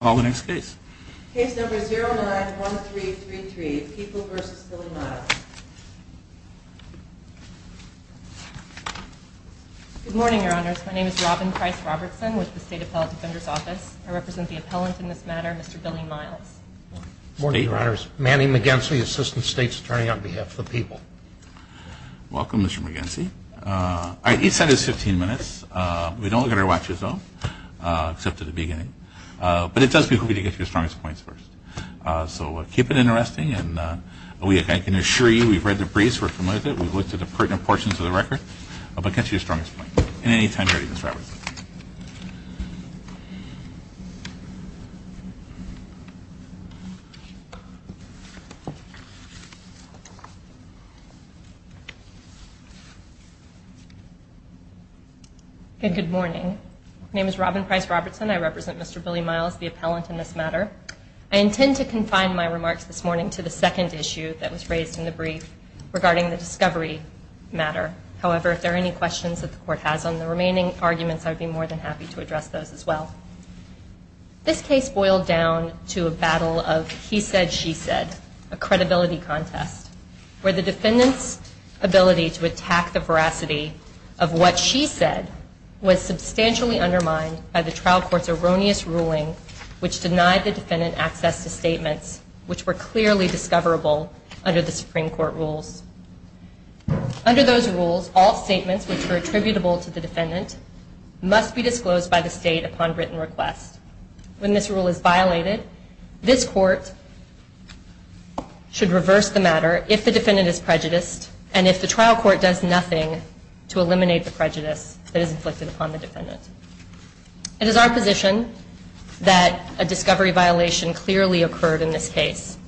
Good morning, Your Honors. My name is Robin Price-Robertson with the State Appellate Defender's Office. I represent the appellant in this matter, Mr. Billy Miles. Good morning, Your Honors. Manny McGinsey, Assistant State's Attorney on behalf of the people. Welcome, Mr. McGinsey. Each side has 15 minutes. We don't look at our watches, though, except at the beginning. But it does behoove you to get to your strongest points first. So keep it interesting, and I can assure you we've read the briefs, we're familiar with it, we've looked at pertinent portions of the record, but get to your strongest points. At any time, Ms. Robertson. Good morning. My name is Robin Price-Robertson. I represent Mr. Billy Miles, the appellant in this matter. I intend to confine my remarks this morning to the second issue that was raised in the brief regarding the discovery matter. However, if there are any questions that the court has on the remaining arguments, I would be more than happy to address those as well. This case boiled down to a battle of he said, she said, a credibility contest, where the defendant's ability to attack the veracity of what she said was substantially undermined by the trial court's erroneous ruling which denied the defendant access to statements which were clearly discoverable under the Supreme Court rules. Under those rules, all statements which were attributable to the defendant must be disclosed by the state upon written request. When this rule is violated, this court should reverse the matter if the defendant is prejudiced and if the trial court does nothing to eliminate the prejudice that is inflicted upon the defendant. It is our position that a discovery violation clearly occurred in this case.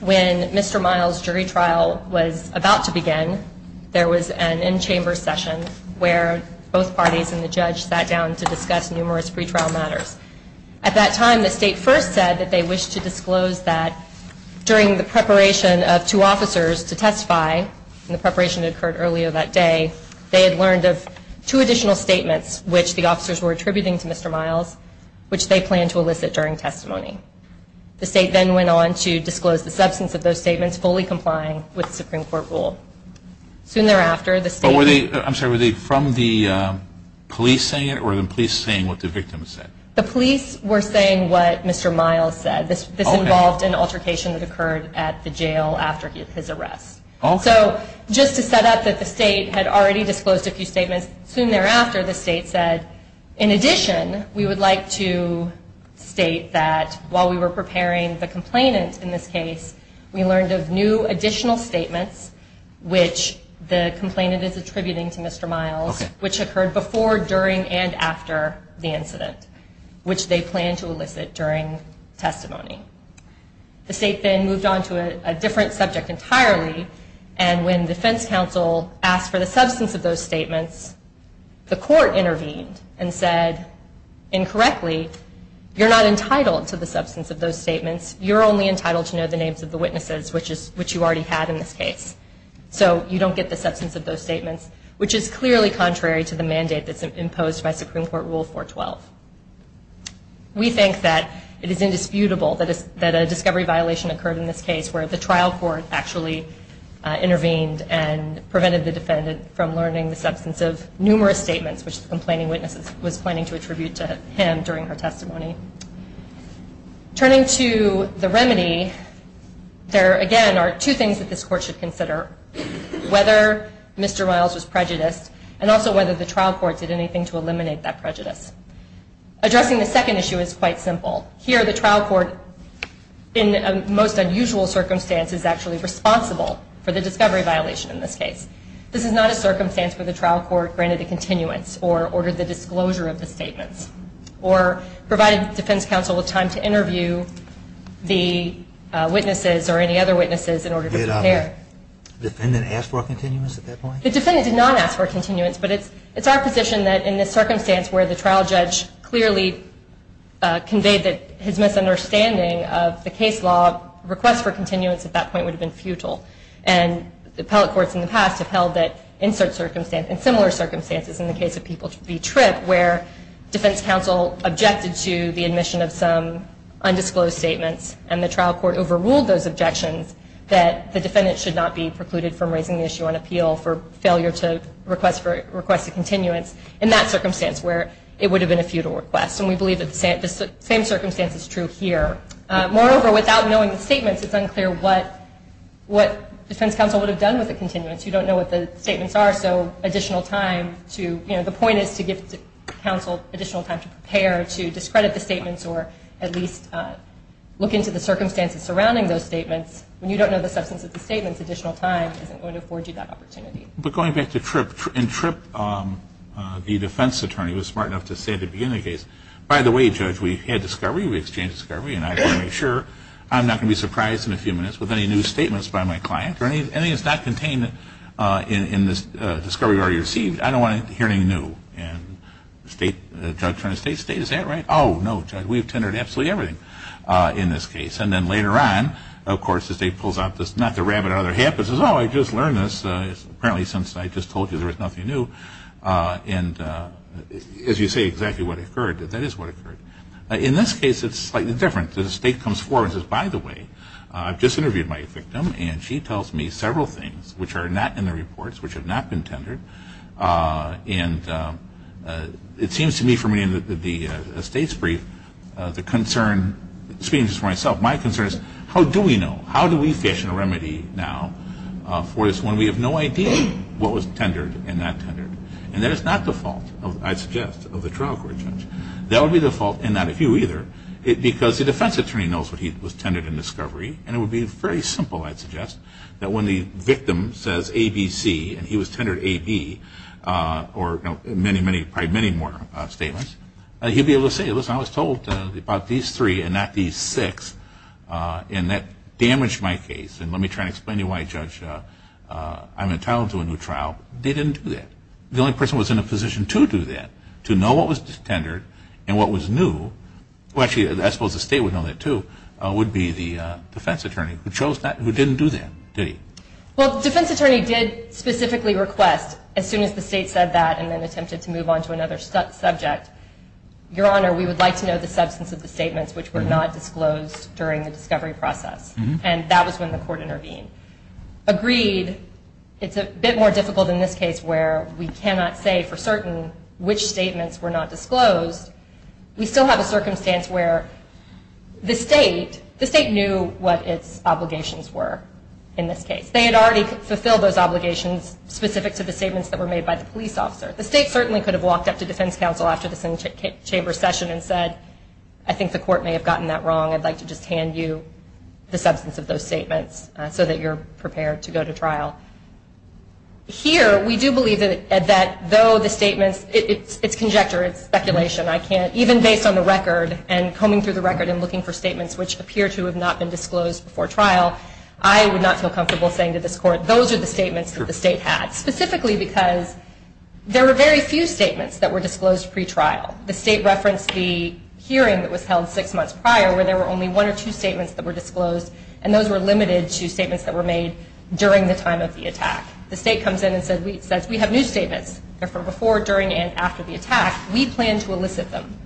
When Mr. Miles' jury trial was about to begin, there was an in-chamber session where both parties and the judge sat down to discuss numerous pre-trial matters. At that time, the state first said that they wished to disclose that during the preparation of two officers to testify, and the preparation occurred earlier that day, they had learned of two additional statements which the officers were attributing to Mr. Miles, which they planned to elicit during testimony. The state then went on to disclose the substance of those statements, fully complying with the Supreme Court rule. Soon thereafter, the state... But were they, I'm sorry, were they from the police saying it, or were the police saying what the victim said? The police were saying what Mr. Miles said. Okay. This involved an altercation that occurred at the jail after his arrest. Okay. So just to set up that the state had already disclosed a few statements. Soon thereafter, the state said, in addition, we would like to state that while we were preparing the complainant in this case, we learned of new additional statements which the complainant is attributing to Mr. Miles, which occurred before, during, and after the incident, which they planned to elicit during testimony. The state then moved on to a different subject entirely, and when defense counsel asked for the substance of those statements, the court intervened and said, incorrectly, you're not entitled to the substance of those statements. You're only entitled to know the names of the witnesses, which you already had in this case. So you don't get the substance of those statements, which is clearly contrary to the mandate that's imposed by Supreme Court Rule 412. We think that it is indisputable that a discovery violation occurred in this case where the trial court actually intervened and prevented the defendant from learning the substance of numerous statements, which the complaining witness was planning to attribute to him during her testimony. Turning to the remedy, there, again, are two things that this court should consider, whether Mr. Miles was prejudiced, and also whether the trial court did anything to eliminate that prejudice. Addressing the second issue is quite simple. Here, the trial court, in a most unusual circumstance, is actually responsible for the discovery violation in this case. This is not a circumstance where the trial court granted a continuance, or ordered the disclosure of the statements, or provided defense counsel with time to interview the witnesses or any other witnesses in order to prepare. Did the defendant ask for a continuance at that point? The defendant did not ask for a continuance, but it's our position that in this circumstance where the trial judge clearly conveyed that his misunderstanding of the case law, requests for continuance at that point would have been futile. And the appellate courts in the past have held that in similar circumstances, in the case of people v. Tripp, where defense counsel objected to the admission of some undisclosed statements, and the trial court overruled those objections, that the defendant should not be precluded from raising the issue on appeal for failure to request a continuance in that circumstance where it would have been a futile request. And we believe that the same circumstance is true here. Moreover, without knowing the statements, it's unclear what defense counsel would have done with the continuance. You don't know what the statements are, so additional time to, you know, the point is to give counsel additional time to prepare, to discredit the statements, or at least look into the circumstances surrounding those statements. When you don't know the substance of the statements, additional time isn't going to afford you that opportunity. But going back to Tripp, in Tripp, the defense attorney was smart enough to say at the beginning of the case, by the way, Judge, we had discovery, we exchanged discovery, and I want to make sure I'm not going to be surprised in a few minutes with any new statements by my client, or anything that's not contained in this discovery we already received. I don't want to hear anything new. And the state, the judge turned to the state, state, is that right? Oh, no, Judge, we've tendered absolutely everything in this case. And then later on, of course, the state pulls out this, not to rabbit out of their hat, but says, oh, I just learned this. Apparently since I just told you there was nothing new. And as you say, exactly what occurred, that is what occurred. In this case, it's slightly different. The state comes forward and says, by the way, I've just interviewed my victim, and she tells me several things, which are not in the reports, which have not been tendered. And it seems to me, from reading the state's brief, the concern, speaking just for myself, my concern is, how do we know? For this one, we have no idea what was tendered and not tendered. And that is not the fault, I'd suggest, of the trial court judge. That would be the fault, and not of you either, because the defense attorney knows what he was tendered in discovery, and it would be very simple, I'd suggest, that when the victim says A, B, C, and he was tendered A, B, or many, many, probably many more statements, he'd be able to say, listen, I was told about these three and not these six, and that damaged my case. And let me try to explain to you why, Judge, I'm entitled to a new trial. They didn't do that. The only person who was in a position to do that, to know what was tendered and what was new, well, actually, I suppose the state would know that, too, would be the defense attorney, who didn't do that, did he? Well, the defense attorney did specifically request, as soon as the state said that, and then attempted to move on to another subject, Your Honor, we would like to know the substance of the statements which were not disclosed during the discovery process. And that was when the court intervened. Agreed, it's a bit more difficult in this case where we cannot say for certain which statements were not disclosed. We still have a circumstance where the state knew what its obligations were in this case. They had already fulfilled those obligations specific to the statements that were made by the police officer. The state certainly could have walked up to defense counsel after this chamber session and said, I think the court may have gotten that wrong. I'd like to just hand you the substance of those statements so that you're prepared to go to trial. Here, we do believe that though the statements, it's conjecture, it's speculation, I can't, even based on the record and combing through the record and looking for statements which appear to have not been disclosed before trial, I would not feel comfortable saying to this court, those are the statements that the state had, specifically because there were very few statements that were disclosed pretrial. The state referenced the hearing that was held six months prior where there were only one or two statements that were disclosed and those were limited to statements that were made during the time of the attack. The state comes in and says, we have new statements. They're from before, during, and after the attack. We plan to elicit them,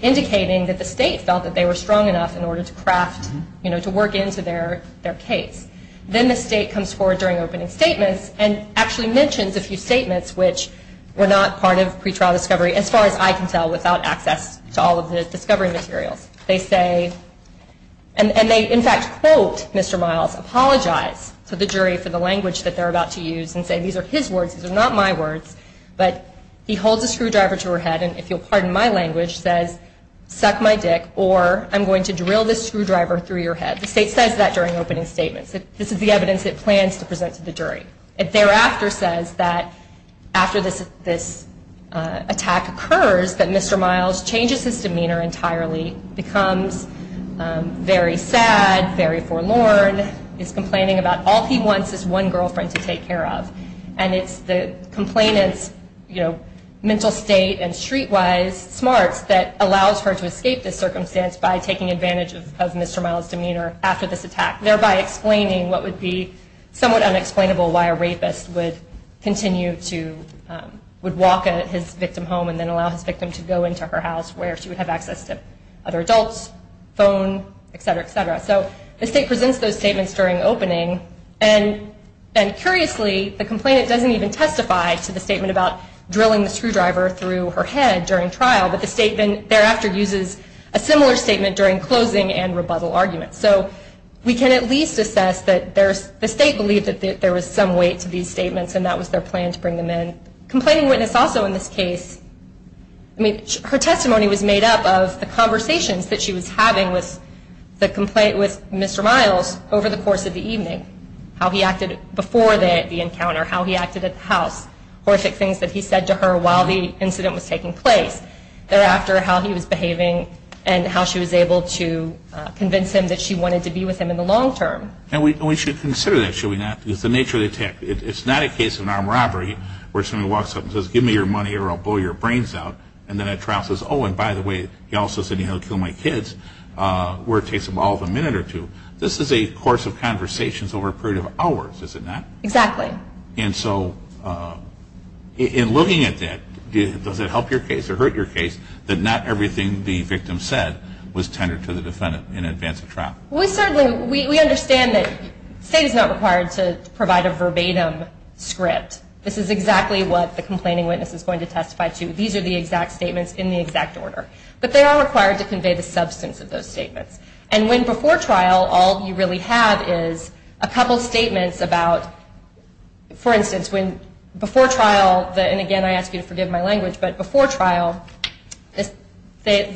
indicating that the state felt that they were strong enough in order to craft, to work into their case. Then the state comes forward during opening statements and actually mentions a few statements which were not part of pretrial discovery, as far as I can tell, without access to all of the discovery materials. They say, and they in fact quote Mr. Miles, apologize to the jury for the language that they're about to use and say these are his words, these are not my words, but he holds a screwdriver to her head and, if you'll pardon my language, says, suck my dick or I'm going to drill this screwdriver through your head. The state says that during opening statements. It thereafter says that after this attack occurs that Mr. Miles changes his demeanor entirely, becomes very sad, very forlorn, is complaining about all he wants is one girlfriend to take care of. And it's the complainant's mental state and streetwise smarts that allows her to escape this circumstance by taking advantage of Mr. Miles' demeanor after this attack, thereby explaining what would be somewhat unexplainable why a rapist would continue to, would walk his victim home and then allow his victim to go into her house where she would have access to other adults, phone, et cetera, et cetera. So the state presents those statements during opening and curiously the complainant doesn't even testify to the statement about drilling the screwdriver through her head during trial, but the statement thereafter uses a similar statement during closing and rebuttal arguments. So we can at least assess that the state believed that there was some weight to these statements and that was their plan to bring them in. Complaining witness also in this case, her testimony was made up of the conversations that she was having with Mr. Miles over the course of the evening, how he acted before the encounter, how he acted at the house, horrific things that he said to her while the incident was taking place. Thereafter, how he was behaving and how she was able to convince him that she wanted to be with him in the long term. And we should consider that, should we not? It's the nature of the attack. It's not a case of an armed robbery where somebody walks up and says, give me your money or I'll blow your brains out. And then at trial says, oh, and by the way, he also said he'll kill my kids, where it takes them all of a minute or two. This is a course of conversations over a period of hours, is it not? Exactly. And so in looking at that, does it help your case or hurt your case that not everything the victim said was tendered to the defendant in advance of trial? We certainly, we understand that state is not required to provide a verbatim script. This is exactly what the complaining witness is going to testify to. These are the exact statements in the exact order. But they are required to convey the substance of those statements. And when before trial, all you really have is a couple statements about, for instance, when before trial, and again, I ask you to forgive my language, but before trial, the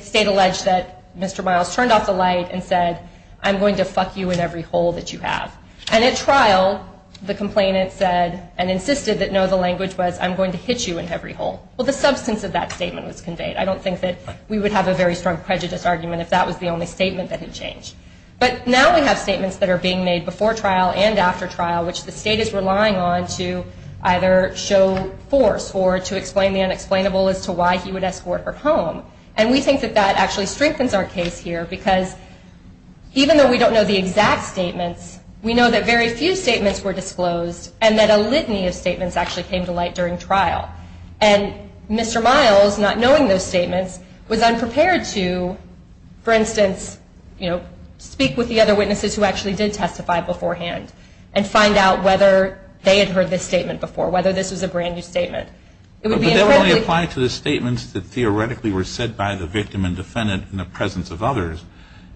state alleged that Mr. Miles turned off the light and said, I'm going to fuck you in every hole that you have. And at trial, the complainant said and insisted that, no, the language was I'm going to hit you in every hole. Well, the substance of that statement was conveyed. I don't think that we would have a very strong prejudice argument if that was the only statement that had changed. But now we have statements that are being made before trial and after trial, which the state is relying on to either show force or to explain the unexplainable as to why he would escort her home. And we think that that actually strengthens our case here because even though we don't know the exact statements, we know that very few statements were disclosed and that a litany of statements actually came to light during trial. And Mr. Miles, not knowing those statements, was unprepared to, for instance, speak with the other witnesses who actually did testify beforehand and find out whether they had heard this statement before, whether this was a brand-new statement. But they only apply to the statements that theoretically were said by the victim and defendant in the presence of others.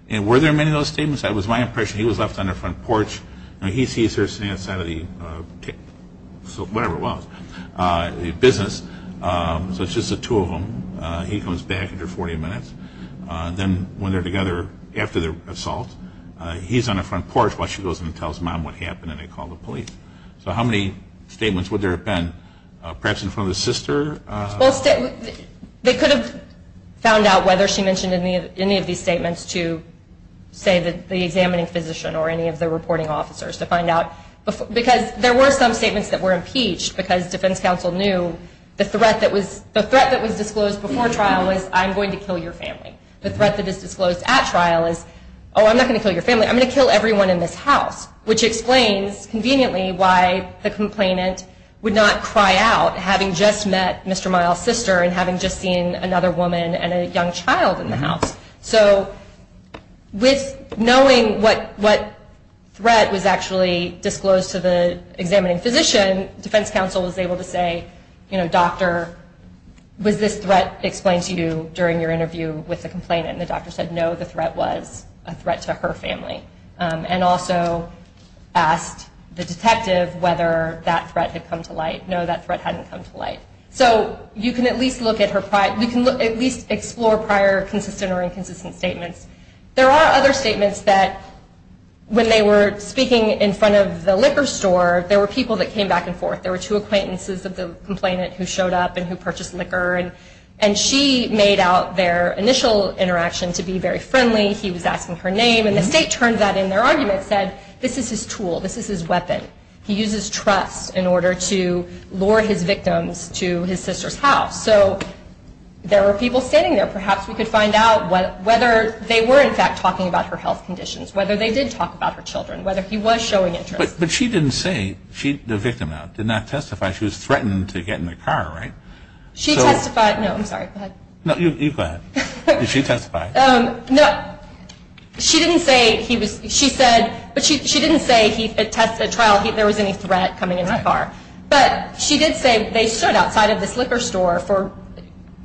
And were there many of those statements? It was my impression he was left on the front porch, and he sees her standing outside of the business. So it's just the two of them. He comes back after 40 minutes. Then when they're together after their assault, he's on the front porch while she goes in and tells Mom what happened, and they call the police. So how many statements would there have been, perhaps in front of the sister? Well, they could have found out whether she mentioned any of these statements to, say, the examining physician or any of the reporting officers to find out. Because there were some statements that were impeached, because defense counsel knew the threat that was disclosed before trial was I'm going to kill your family. The threat that is disclosed at trial is, oh, I'm not going to kill your family. I'm going to kill everyone in this house, which explains conveniently why the complainant would not cry out, having just met Mr. Miles' sister and having just seen another woman and a young child in the house. So with knowing what threat was actually disclosed to the examining physician, defense counsel was able to say, you know, Doctor, was this threat explained to you during your interview with the complainant? And the doctor said, no, the threat was a threat to her family, and also asked the detective whether that threat had come to light. No, that threat hadn't come to light. So you can at least explore prior consistent or inconsistent statements. There are other statements that when they were speaking in front of the liquor store, there were people that came back and forth. There were two acquaintances of the complainant who showed up and who purchased liquor, and she made out their initial interaction to be very friendly. He was asking her name, and the state turned that in. Their argument said, this is his tool. This is his weapon. He uses trust in order to lure his victims to his sister's house. So there were people standing there. Perhaps we could find out whether they were, in fact, talking about her health conditions, whether they did talk about her children, whether he was showing interest. But she didn't say the victim did not testify. She was threatened to get in the car, right? She testified. No, I'm sorry. Go ahead. No, you go ahead. Did she testify? No. She didn't say he was, she said, but she didn't say at trial there was any threat coming into the car. But she did say they stood outside of this liquor store for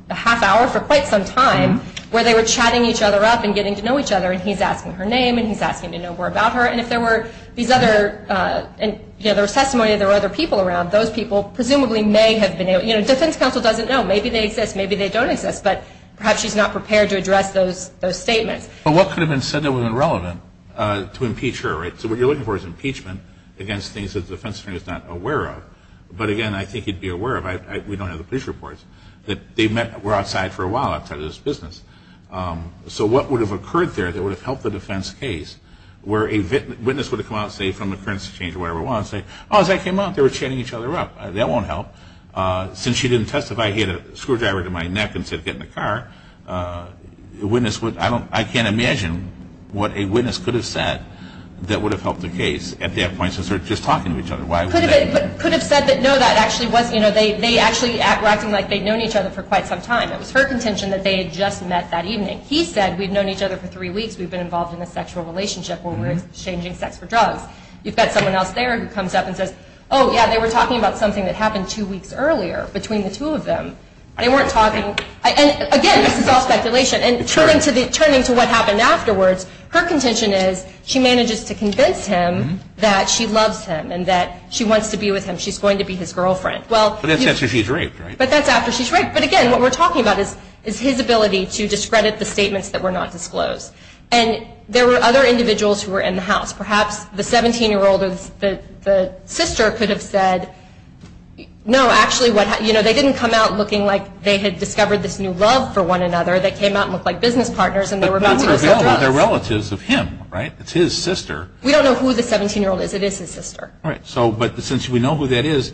a half hour for quite some time where they were chatting each other up and getting to know each other, and he's asking her name and he's asking to know more about her. And if there were these other, you know, there was testimony that there were other people around, those people presumably may have been, you know, defense counsel doesn't know. Maybe they exist. Maybe they don't exist. But perhaps she's not prepared to address those statements. But what could have been said that was irrelevant to impeach her, right? So what you're looking for is impeachment against things that the defense attorney is not aware of. But, again, I think you'd be aware of, we don't have the police reports, that they met, were outside for a while outside of this business. So what would have occurred there that would have helped the defense case where a witness would have come out, say, from the currency exchange or wherever it was and say, oh, as I came out they were chatting each other up. That won't help. Since she didn't testify, he had a screwdriver to my neck and said, get in the car. I can't imagine what a witness could have said that would have helped the case at that point since they were just talking to each other. Could have said that, no, that actually wasn't, you know, they actually were acting like they'd known each other for quite some time. It was her contention that they had just met that evening. He said, we've known each other for three weeks. We've been involved in a sexual relationship where we're exchanging sex for drugs. You've got someone else there who comes up and says, oh, yeah, they were talking about something that happened two weeks earlier between the two of them. They weren't talking. And, again, this is all speculation. And turning to what happened afterwards, her contention is she manages to convince him that she loves him and that she wants to be with him. She's going to be his girlfriend. But that's after she's raped, right? But that's after she's raped. But, again, what we're talking about is his ability to discredit the statements that were not disclosed. And there were other individuals who were in the house. Perhaps the 17-year-old or the sister could have said, no, actually, they didn't come out looking like they had discovered this new love for one another. They came out and looked like business partners. But they're relatives of him, right? It's his sister. We don't know who the 17-year-old is. It is his sister. Right. But since we know who that is,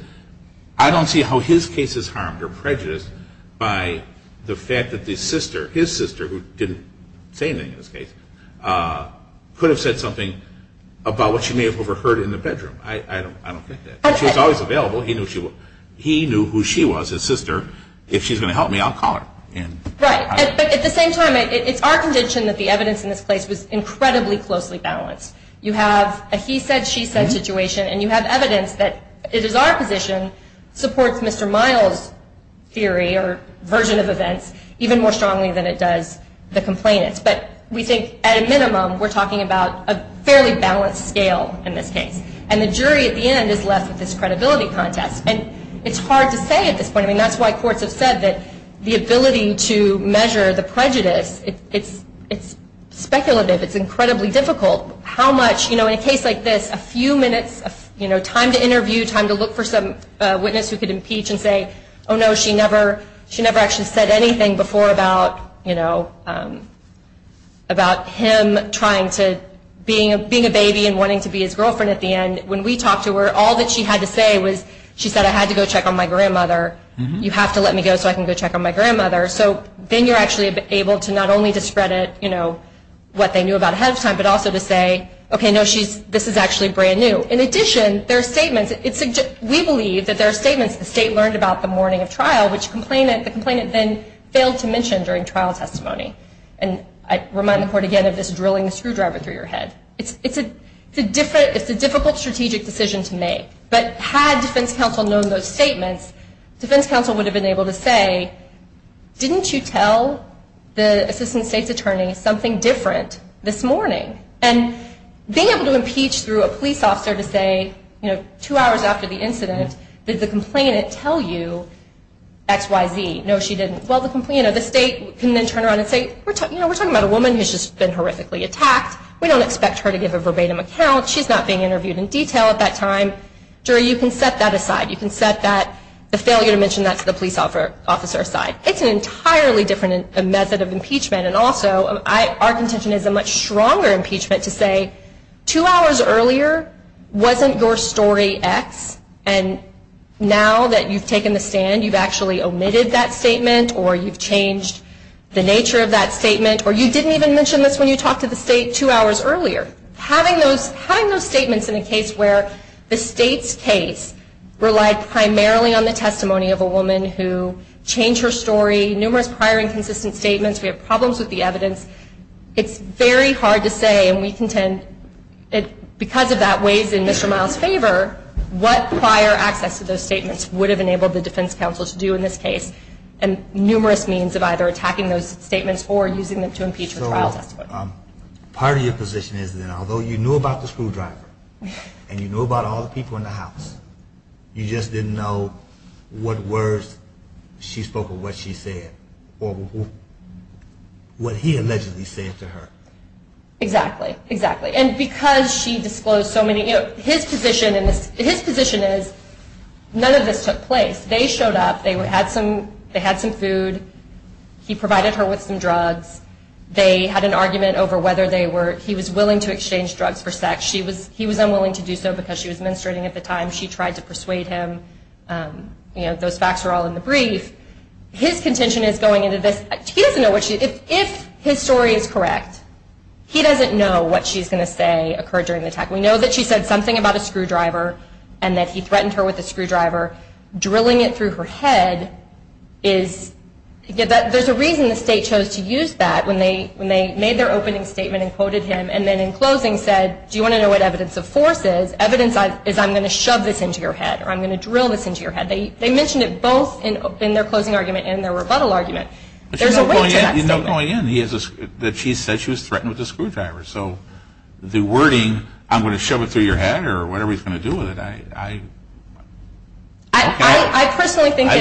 I don't see how his case is harmed or prejudiced by the fact that his sister, who didn't say anything in this case, could have said something about what she may have overheard in the bedroom. I don't think that. But she was always available. He knew who she was, his sister. If she's going to help me, I'll call her. Right. But at the same time, it's our conviction that the evidence in this case was incredibly closely balanced. You have a he said, she said situation. And you have evidence that it is our position supports Mr. Miles' theory or version of events even more strongly than it does the complainant's. But we think, at a minimum, we're talking about a fairly balanced scale in this case. And the jury at the end is left with this credibility contest. And it's hard to say at this point. I mean, that's why courts have said that the ability to measure the prejudice, it's speculative. It's incredibly difficult. How much, you know, in a case like this, a few minutes, you know, time to interview, time to look for some witness who could impeach and say, oh, no, she never actually said anything before about, you know, about him trying to being a baby and wanting to be his girlfriend at the end. When we talked to her, all that she had to say was she said, I had to go check on my grandmother. You have to let me go so I can go check on my grandmother. So then you're actually able to not only to spread it, you know, what they knew about ahead of time, but also to say, okay, no, this is actually brand new. In addition, there are statements. We believe that there are statements the state learned about the morning of trial, which the complainant then failed to mention during trial testimony. And I remind the court again of this drilling a screwdriver through your head. It's a difficult strategic decision to make. But had defense counsel known those statements, defense counsel would have been able to say, didn't you tell the assistant state's attorney something different this morning? And being able to impeach through a police officer to say, you know, two hours after the incident, did the complainant tell you X, Y, Z? No, she didn't. Well, the state can then turn around and say, you know, we're talking about a woman who's just been horrifically attacked. We don't expect her to give a verbatim account. She's not being interviewed in detail at that time. Jury, you can set that aside. You can set the failure to mention that to the police officer aside. It's an entirely different method of impeachment. And also, our contention is a much stronger impeachment to say, two hours earlier wasn't your story X, and now that you've taken the stand you've actually omitted that statement or you've changed the nature of that statement or you didn't even mention this when you talked to the state two hours earlier. Having those statements in a case where the state's case relied primarily on the testimony of a woman who changed her story, numerous prior inconsistent statements, we have problems with the evidence, it's very hard to say and we contend because of that weighs in Mr. Miles' favor what prior access to those statements would have enabled the defense counsel to do in this case and numerous means of either attacking those statements or using them to impeach her trial testimony. Part of your position is that although you knew about the screwdriver and you knew about all the people in the house, you just didn't know what words she spoke or what she said or what he allegedly said to her. Exactly, exactly. And because she disclosed so many, his position is none of this took place. They showed up, they had some food, he provided her with some drugs, they had an argument over whether he was willing to exchange drugs for sex. He was unwilling to do so because she was menstruating at the time. She tried to persuade him. Those facts are all in the brief. His contention is going into this. He doesn't know what she, if his story is correct, he doesn't know what she's going to say occurred during the attack. We know that she said something about a screwdriver and that he threatened her with a screwdriver. Drilling it through her head is, there's a reason the state chose to use that when they made their opening statement and quoted him and then in closing said, do you want to know what evidence of force is? Evidence is I'm going to shove this into your head or I'm going to drill this into your head. They mentioned it both in their closing argument and their rebuttal argument. There's a way to that statement. You know going in that she said she was threatened with a screwdriver. So the wording, I'm going to shove it through your head or whatever he's going to do with it, I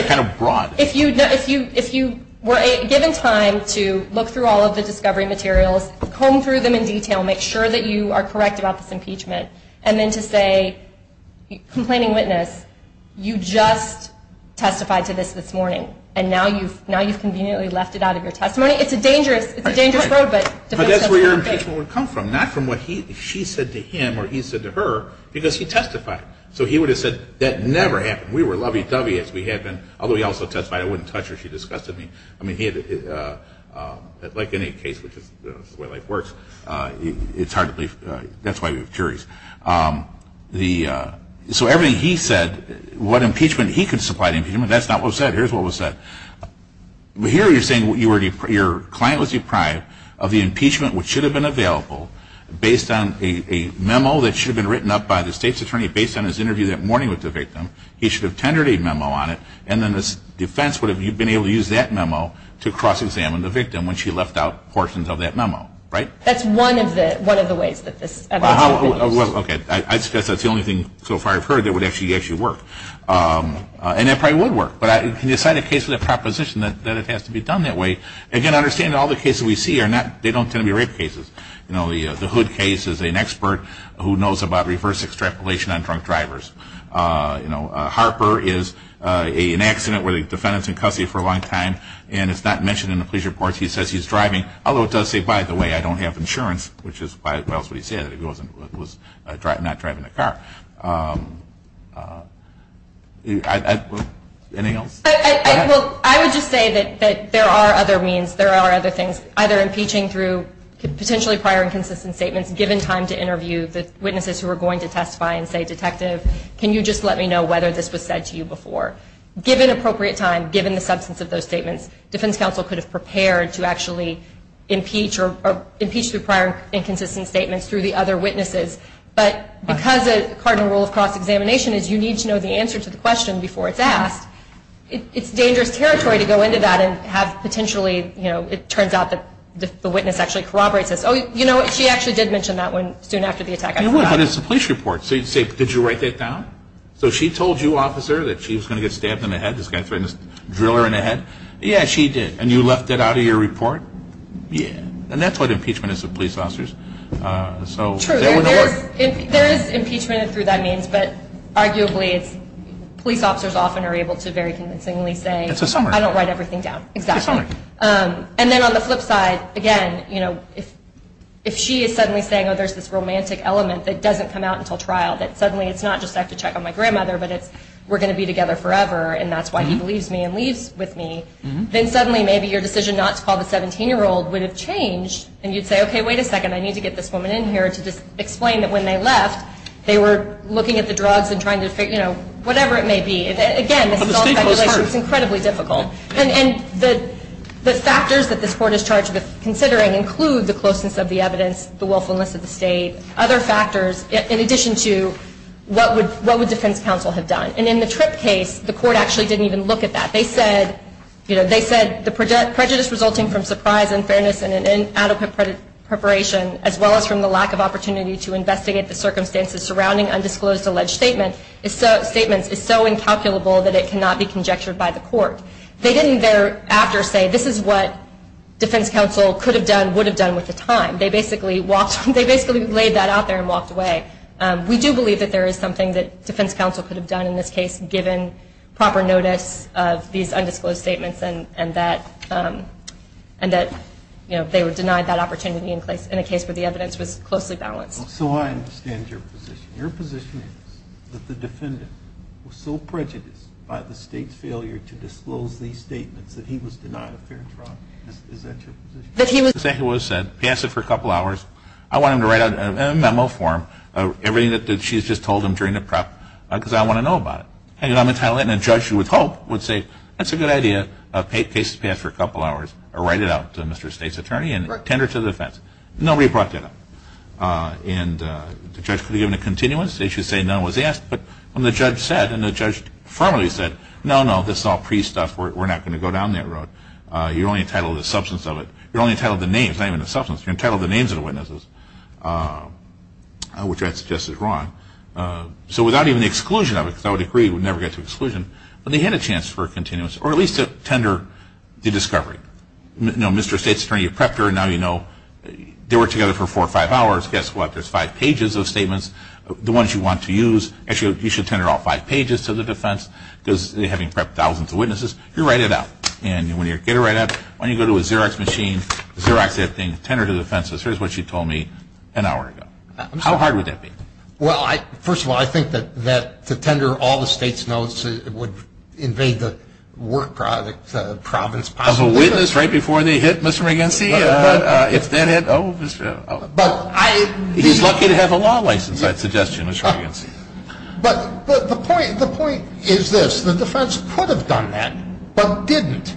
kind of brought it. If you were given time to look through all of the discovery materials, comb through them in detail, make sure that you are correct about this impeachment and then to say, complaining witness, you just testified to this this morning and now you've conveniently left it out of your testimony. It's a dangerous road. But that's where your impeachment would come from, not from what she said to him or he said to her because he testified. So he would have said that never happened. We were lovey-dovey as we had been, although he also testified I wouldn't touch her, she disgusted me. Like any case, which is the way life works, it's hard to believe. That's why we have juries. So everything he said, what impeachment he could supply to impeachment, that's not what was said. Here's what was said. Here you're saying your client was deprived of the impeachment which should have been available based on a memo that should have been written up by the state's attorney based on his interview that morning with the victim. He should have tendered a memo on it and then the defense would have been able to use that memo to cross-examine the victim when she left out portions of that memo, right? That's one of the ways that this would have been used. Okay. I suppose that's the only thing so far I've heard that would actually work. And it probably would work. But can you cite a case with a proposition that it has to be done that way? Again, understand all the cases we see, they don't tend to be rape cases. The Hood case is an expert who knows about reverse extrapolation on drunk drivers. Harper is an accident where the defendant is in custody for a long time and it's not mentioned in the police report. He says he's driving, although it does say, by the way, I don't have insurance, which is what he said, that he was not driving a car. Anything else? I would just say that there are other means, there are other things, either impeaching through potentially prior and consistent statements given time to interview the witnesses who are going to testify and say, detective, can you just let me know whether this was said to you before. Given appropriate time, given the substance of those statements, defense counsel could have prepared to actually impeach or impeach through prior and consistent statements through the other witnesses. But because a cardinal rule of cross-examination is you need to know the answer to the question before it's asked, it's dangerous territory to go into that and have potentially, you know, it turns out that the witness actually corroborates this. Oh, you know, she actually did mention that soon after the attack. But it's a police report, so did you write that down? So she told you, officer, that she was going to get stabbed in the head, this guy threatened to drill her in the head? Yeah, she did. And you left that out of your report? Yeah. And that's what impeachment is to police officers. True, there is impeachment through that means, but arguably police officers often are able to very convincingly say, I don't write everything down, exactly. And then on the flip side, again, you know, if she is suddenly saying, oh, there's this romantic element that doesn't come out until trial, that suddenly it's not just I have to check on my grandmother, but it's we're going to be together forever and that's why he believes me and leaves with me, then suddenly maybe your decision not to call the 17-year-old would have changed and you'd say, okay, wait a second, I need to get this woman in here to explain that when they left, they were looking at the drugs and trying to, you know, whatever it may be. Again, this is all speculation. It's incredibly difficult. And the factors that this court is charged with considering include the closeness of the evidence, the willfulness of the state, other factors, in addition to what would defense counsel have done. And in the Tripp case, the court actually didn't even look at that. They said, you know, they said the prejudice resulting from surprise, unfairness, and inadequate preparation, as well as from the lack of opportunity to investigate the circumstances surrounding undisclosed alleged statements is so incalculable that it cannot be conjectured by the court. They didn't thereafter say this is what defense counsel could have done, would have done with the time. They basically laid that out there and walked away. We do believe that there is something that defense counsel could have done in this case given proper notice of these undisclosed statements and that, you know, they were denied that opportunity in a case where the evidence was closely balanced. So I understand your position. Your position is that the defendant was so prejudiced by the state's failure to disclose these statements that he was denied a fair trial. Is that your position? That he was. Exactly what I said. Pass it for a couple hours. I want him to write out in a memo form everything that she's just told him during the prep because I want to know about it. And I'm entitled and a judge with hope would say that's a good idea. A case is passed for a couple hours. Write it out to Mr. State's attorney and tender to the defense. Nobody brought that up. And the judge could have given a continuance. They should say none was asked. But when the judge said, and the judge firmly said, no, no, this is all pre-stuff. We're not going to go down that road. You're only entitled to the substance of it. You're only entitled to the name. It's not even the substance. You're entitled to the names of the witnesses, which I'd suggest is wrong. So without even the exclusion of it, because I would agree we'd never get to exclusion, but they had a chance for a continuance or at least a tender to discovery. You know, Mr. State's attorney prepped her. Now you know they were together for four or five hours. Guess what? There's five pages of statements, the ones you want to use. Actually, you should tender all five pages to the defense, because having prepped thousands of witnesses, you write it out. And when you get it right out, when you go to a Xerox machine, Xerox that thing, tender to the defense. Here's what she told me an hour ago. How hard would that be? Well, first of all, I think that to tender all the State's notes would invade the work province possibly. Of a witness right before they hit Mr. Regency? If that hit, oh, Mr. Oh. He's lucky to have a law license, I'd suggest to Mr. Regency. But the point is this. The defense could have done that, but didn't.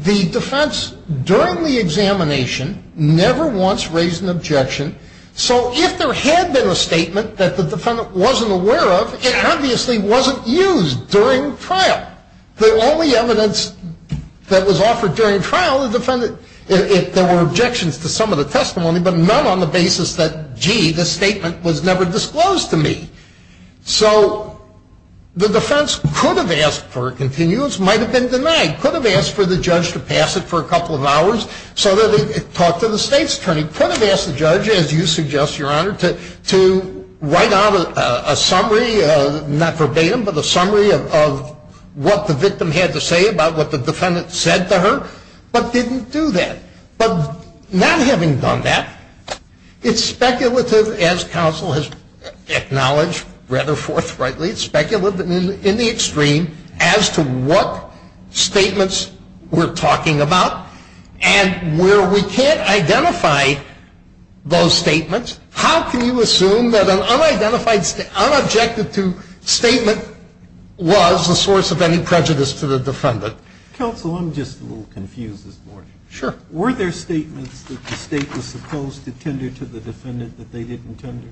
The defense during the examination never once raised an objection. So if there had been a statement that the defendant wasn't aware of, it obviously wasn't used during trial. The only evidence that was offered during trial, the defendant, there were objections to some of the testimony, but none on the basis that, gee, this statement was never disclosed to me. So the defense could have asked for a continuous, might have been denied, could have asked for the judge to pass it for a couple of hours so that it talked to the State's attorney, could have asked the judge, as you suggest, Your Honor, to write out a summary, not verbatim, but a summary of what the victim had to say about what the defendant said to her, but didn't do that. But not having done that, it's speculative, as counsel has acknowledged rather forthrightly, speculative in the extreme as to what statements we're talking about. And where we can't identify those statements, how can you assume that an unidentified, unobjective statement was a source of any prejudice to the defendant? Counsel, I'm just a little confused this morning. Sure. Were there statements that the State was supposed to tender to the defendant that they didn't tender?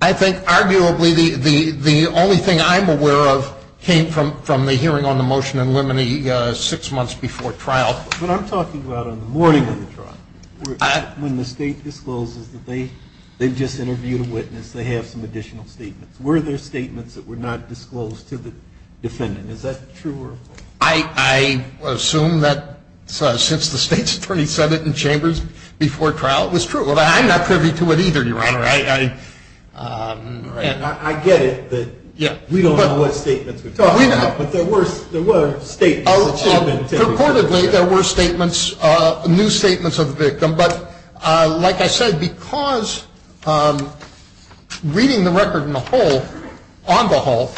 I think, arguably, the only thing I'm aware of came from the hearing on the motion in limine six months before trial. But I'm talking about on the morning of the trial, when the State discloses that they just interviewed a witness, they have some additional statements. Were there statements that were not disclosed to the defendant? Is that true? I assume that since the State's attorney said it in chambers before trial, it was true. But I'm not privy to it either, Your Honor. I get it that we don't know what statements we're talking about. But there were statements that should have been tendered. Reportedly, there were statements, new statements of the victim. But like I said, because reading the record on the whole,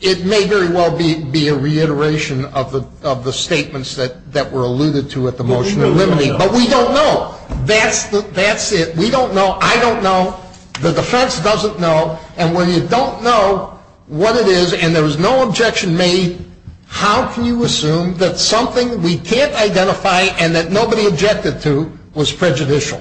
it may very well be a reiteration of the statements that were alluded to at the motion in limine. But we don't know. That's it. We don't know. I don't know. The defense doesn't know. And when you don't know what it is and there was no objection made, how can you assume that something we can't identify and that nobody objected to was prejudicial?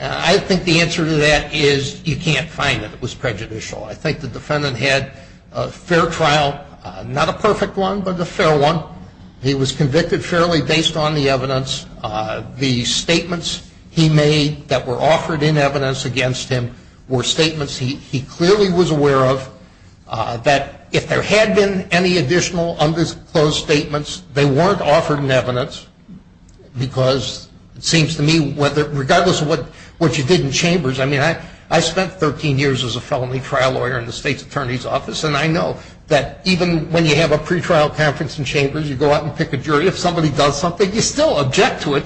I think the answer to that is you can't find it was prejudicial. I think the defendant had a fair trial, not a perfect one, but a fair one. He was convicted fairly based on the evidence. The statements he made that were offered in evidence against him were statements he clearly was aware of, that if there had been any additional undisclosed statements, they weren't offered in evidence because it seems to me, regardless of what you did in chambers, I mean, I spent 13 years as a felony trial lawyer in the state's attorney's office, and I know that even when you have a pretrial conference in chambers, you go out and pick a jury, if somebody does something, you still object to it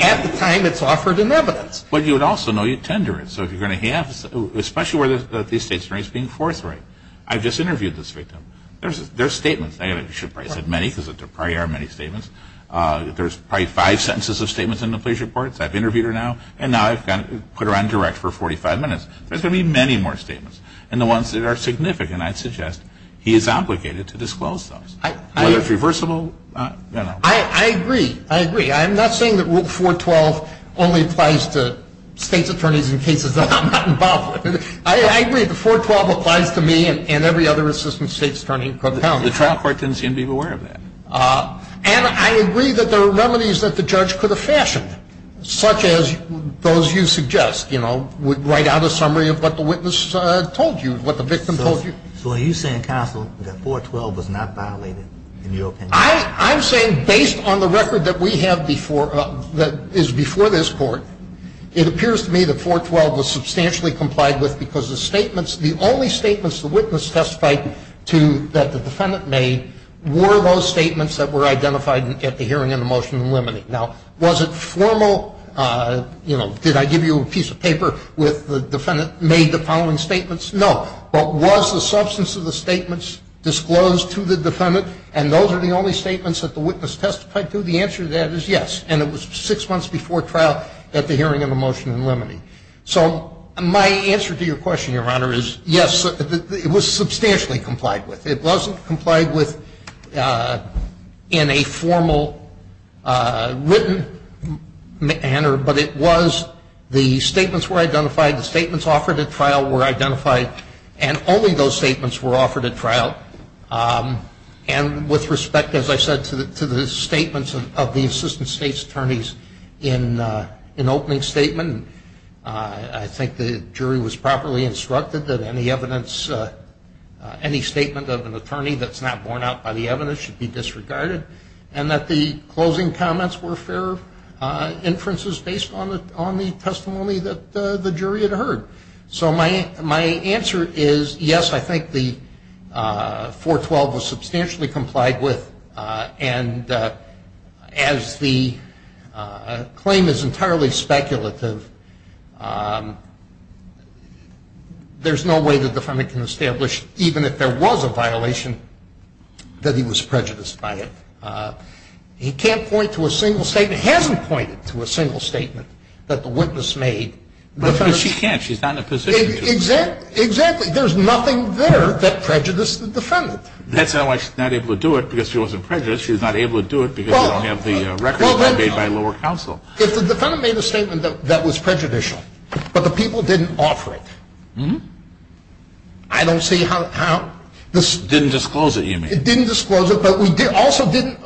at the time it's offered in evidence. But you would also know you tender it. So if you're going to have, especially where these states are being forthright, I've just interviewed this victim. There's statements. I should probably say many because there probably are many statements. There's probably five sentences of statements in the police reports. I've interviewed her now, and now I've got to put her on direct for 45 minutes. There's going to be many more statements, and the ones that are significant, I'd suggest he is obligated to disclose those, whether it's reversible. I agree. I agree. I'm not saying that Rule 412 only applies to states' attorneys in cases that I'm not involved with. I agree. The 412 applies to me and every other assistant state's attorney. The trial court doesn't seem to be aware of that. And I agree that there are remedies that the judge could have fashioned, such as those you suggest, you know, would write out a summary of what the witness told you, what the victim told you. So are you saying, counsel, that 412 was not violated in your opinion? I'm saying based on the record that we have before, that is before this Court, it appears to me that 412 was substantially complied with because the statements, the only statements the witness testified to that the defendant made were those statements that were identified at the hearing in the motion limiting. Now, was it formal, you know, did I give you a piece of paper with the defendant made the following statements? No. But was the substance of the statements disclosed to the defendant, and those are the only statements that the witness testified to? The answer to that is yes. And it was six months before trial at the hearing in the motion limiting. So my answer to your question, Your Honor, is yes, it was substantially complied with. It wasn't complied with in a formal written manner, but it was the statements were identified, the statements offered at trial were identified, and only those statements were offered at trial. And with respect, as I said, to the statements of the assistant state's attorneys in opening statement, I think the jury was properly instructed that any evidence, any statement of an attorney that's not borne out by the evidence should be disregarded, and that the closing comments were fair inferences based on the testimony that the jury had heard. So my answer is yes, I think the 412 was substantially complied with, and as the claim is entirely speculative, there's no way the defendant can establish, even if there was a violation, that he was prejudiced by it. He can't point to a single statement, hasn't pointed to a single statement that the witness made. But she can't. She's not in a position to. Exactly. There's nothing there that prejudiced the defendant. That's how she's not able to do it because she wasn't prejudiced. She's not able to do it because she doesn't have the records made by lower counsel. If the defendant made a statement that was prejudicial, but the people didn't offer it, I don't see how this. Didn't disclose it, you mean. It didn't disclose it, but we also didn't.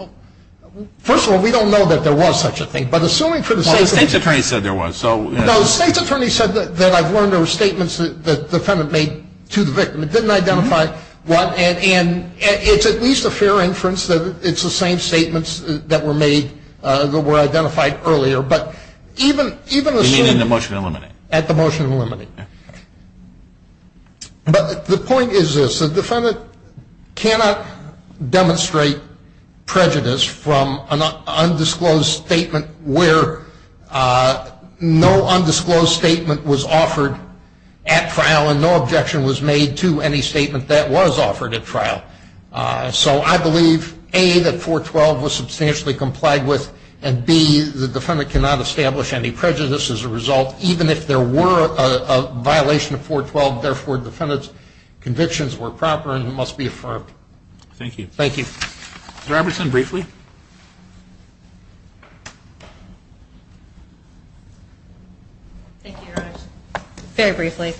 First of all, we don't know that there was such a thing, but assuming for the sake of. Well, the state's attorney said there was, so. No, the state's attorney said that I've learned there were statements that the defendant made to the victim. It didn't identify what. And it's at least a fair inference that it's the same statements that were made, that were identified earlier. But even assuming. You mean in the motion to eliminate. At the motion to eliminate. But the point is this, the defendant cannot demonstrate prejudice from an undisclosed statement where no undisclosed statement was offered at trial and no objection was made to any statement that was offered at trial. So I believe, A, that 412 was substantially complied with, and B, the defendant cannot establish any prejudice as a result, even if there were a violation of 412. Therefore, defendant's convictions were proper and must be affirmed. Thank you. Thank you. Ms. Robertson, briefly. Thank you, Your Honor. Very briefly.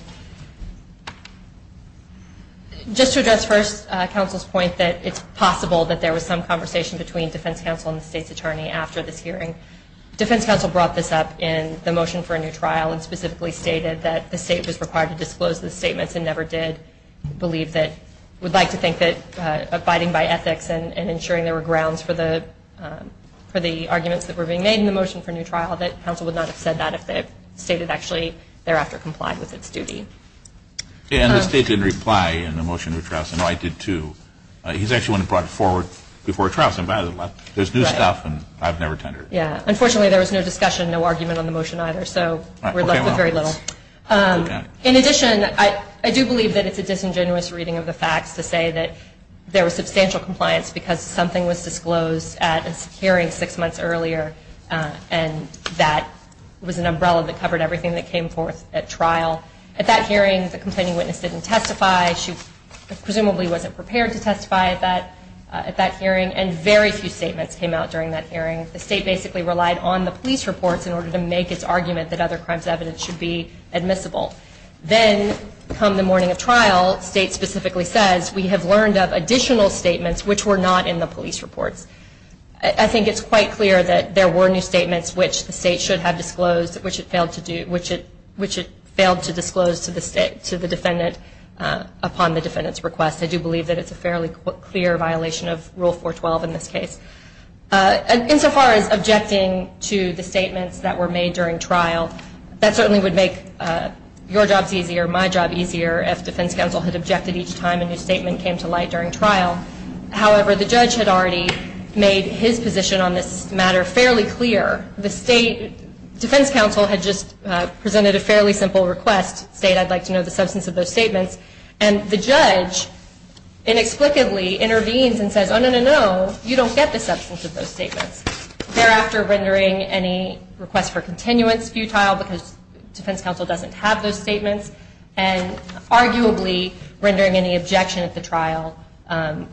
Just to address first counsel's point that it's possible that there was some conversation between defense counsel and the state's attorney after this hearing. Defense counsel brought this up in the motion for a new trial and specifically stated that the state was required to disclose the statements and never did believe that, would like to think that abiding by ethics and ensuring there were grounds for the arguments that were being made in the motion for a new trial, that counsel would not have said that if the state had actually thereafter complied with its duty. And the state didn't reply in the motion to trial. No, I did too. He's actually the one who brought it forward before trial, so there's new stuff and I've never tendered it. Unfortunately, there was no discussion, no argument on the motion either, so we're left with very little. In addition, I do believe that it's a disingenuous reading of the facts to say that there was substantial compliance because something was disclosed at a hearing six months earlier and that was an umbrella that covered everything that came forth at trial. At that hearing, the complaining witness didn't testify. She presumably wasn't prepared to testify at that hearing, and very few statements came out during that hearing. The state basically relied on the police reports in order to make its argument that other crimes evidence should be admissible. Then, come the morning of trial, the state specifically says, we have learned of additional statements which were not in the police reports. I think it's quite clear that there were new statements which the state should have disclosed, which it failed to disclose to the defendant upon the defendant's request. I do believe that it's a fairly clear violation of Rule 412 in this case. Insofar as objecting to the statements that were made during trial, that certainly would make your jobs easier, my job easier, if defense counsel had objected each time a new statement came to light during trial. However, the judge had already made his position on this matter fairly clear. The state defense counsel had just presented a fairly simple request, saying I'd like to know the substance of those statements, and the judge inexplicably intervenes and says, oh, no, no, no, you don't get the substance of those statements, thereafter rendering any request for continuance futile because defense counsel doesn't have those statements, and arguably rendering any objection at the trial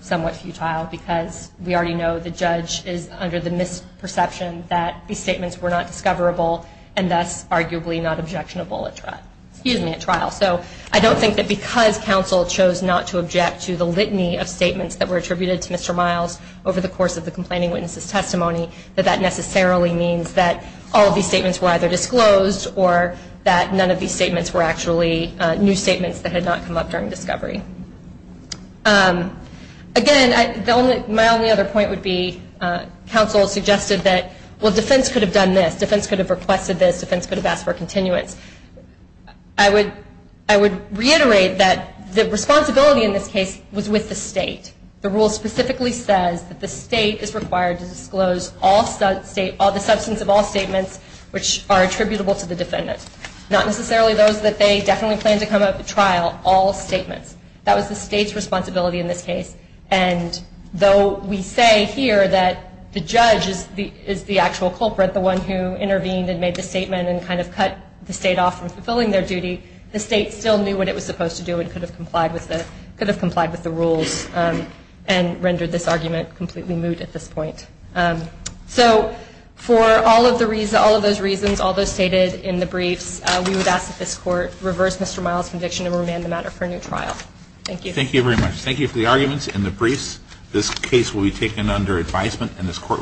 somewhat futile because we already know the judge is under the misperception that these statements were not discoverable and thus arguably not objectionable at trial. So I don't think that because counsel chose not to object to the litany of statements that were attributed to Mr. Miles over the course of the complaining witness's testimony, that that necessarily means that all of these statements were either disclosed or that none of these statements were actually new statements that had not come up during discovery. Again, my only other point would be counsel suggested that, well, defense could have done this, defense could have requested this, defense could have asked for continuance. I would reiterate that the responsibility in this case was with the state. The rule specifically says that the state is required to disclose the substance of all statements which are attributable to the defendant, not necessarily those that they definitely plan to come up at trial, all statements. That was the state's responsibility in this case, and though we say here that the judge is the actual culprit, the one who intervened and made the statement and kind of cut the state off from fulfilling their duty, the state still knew what it was supposed to do and could have complied with the rules and rendered this argument completely moot at this point. So for all of those reasons, all those stated in the briefs, we would ask that this Court reverse Mr. Miles' conviction and remand the matter for a new trial. Thank you. Thank you very much. Thank you for the arguments and the briefs. This case will be taken under advisement and this Court will be adjourned.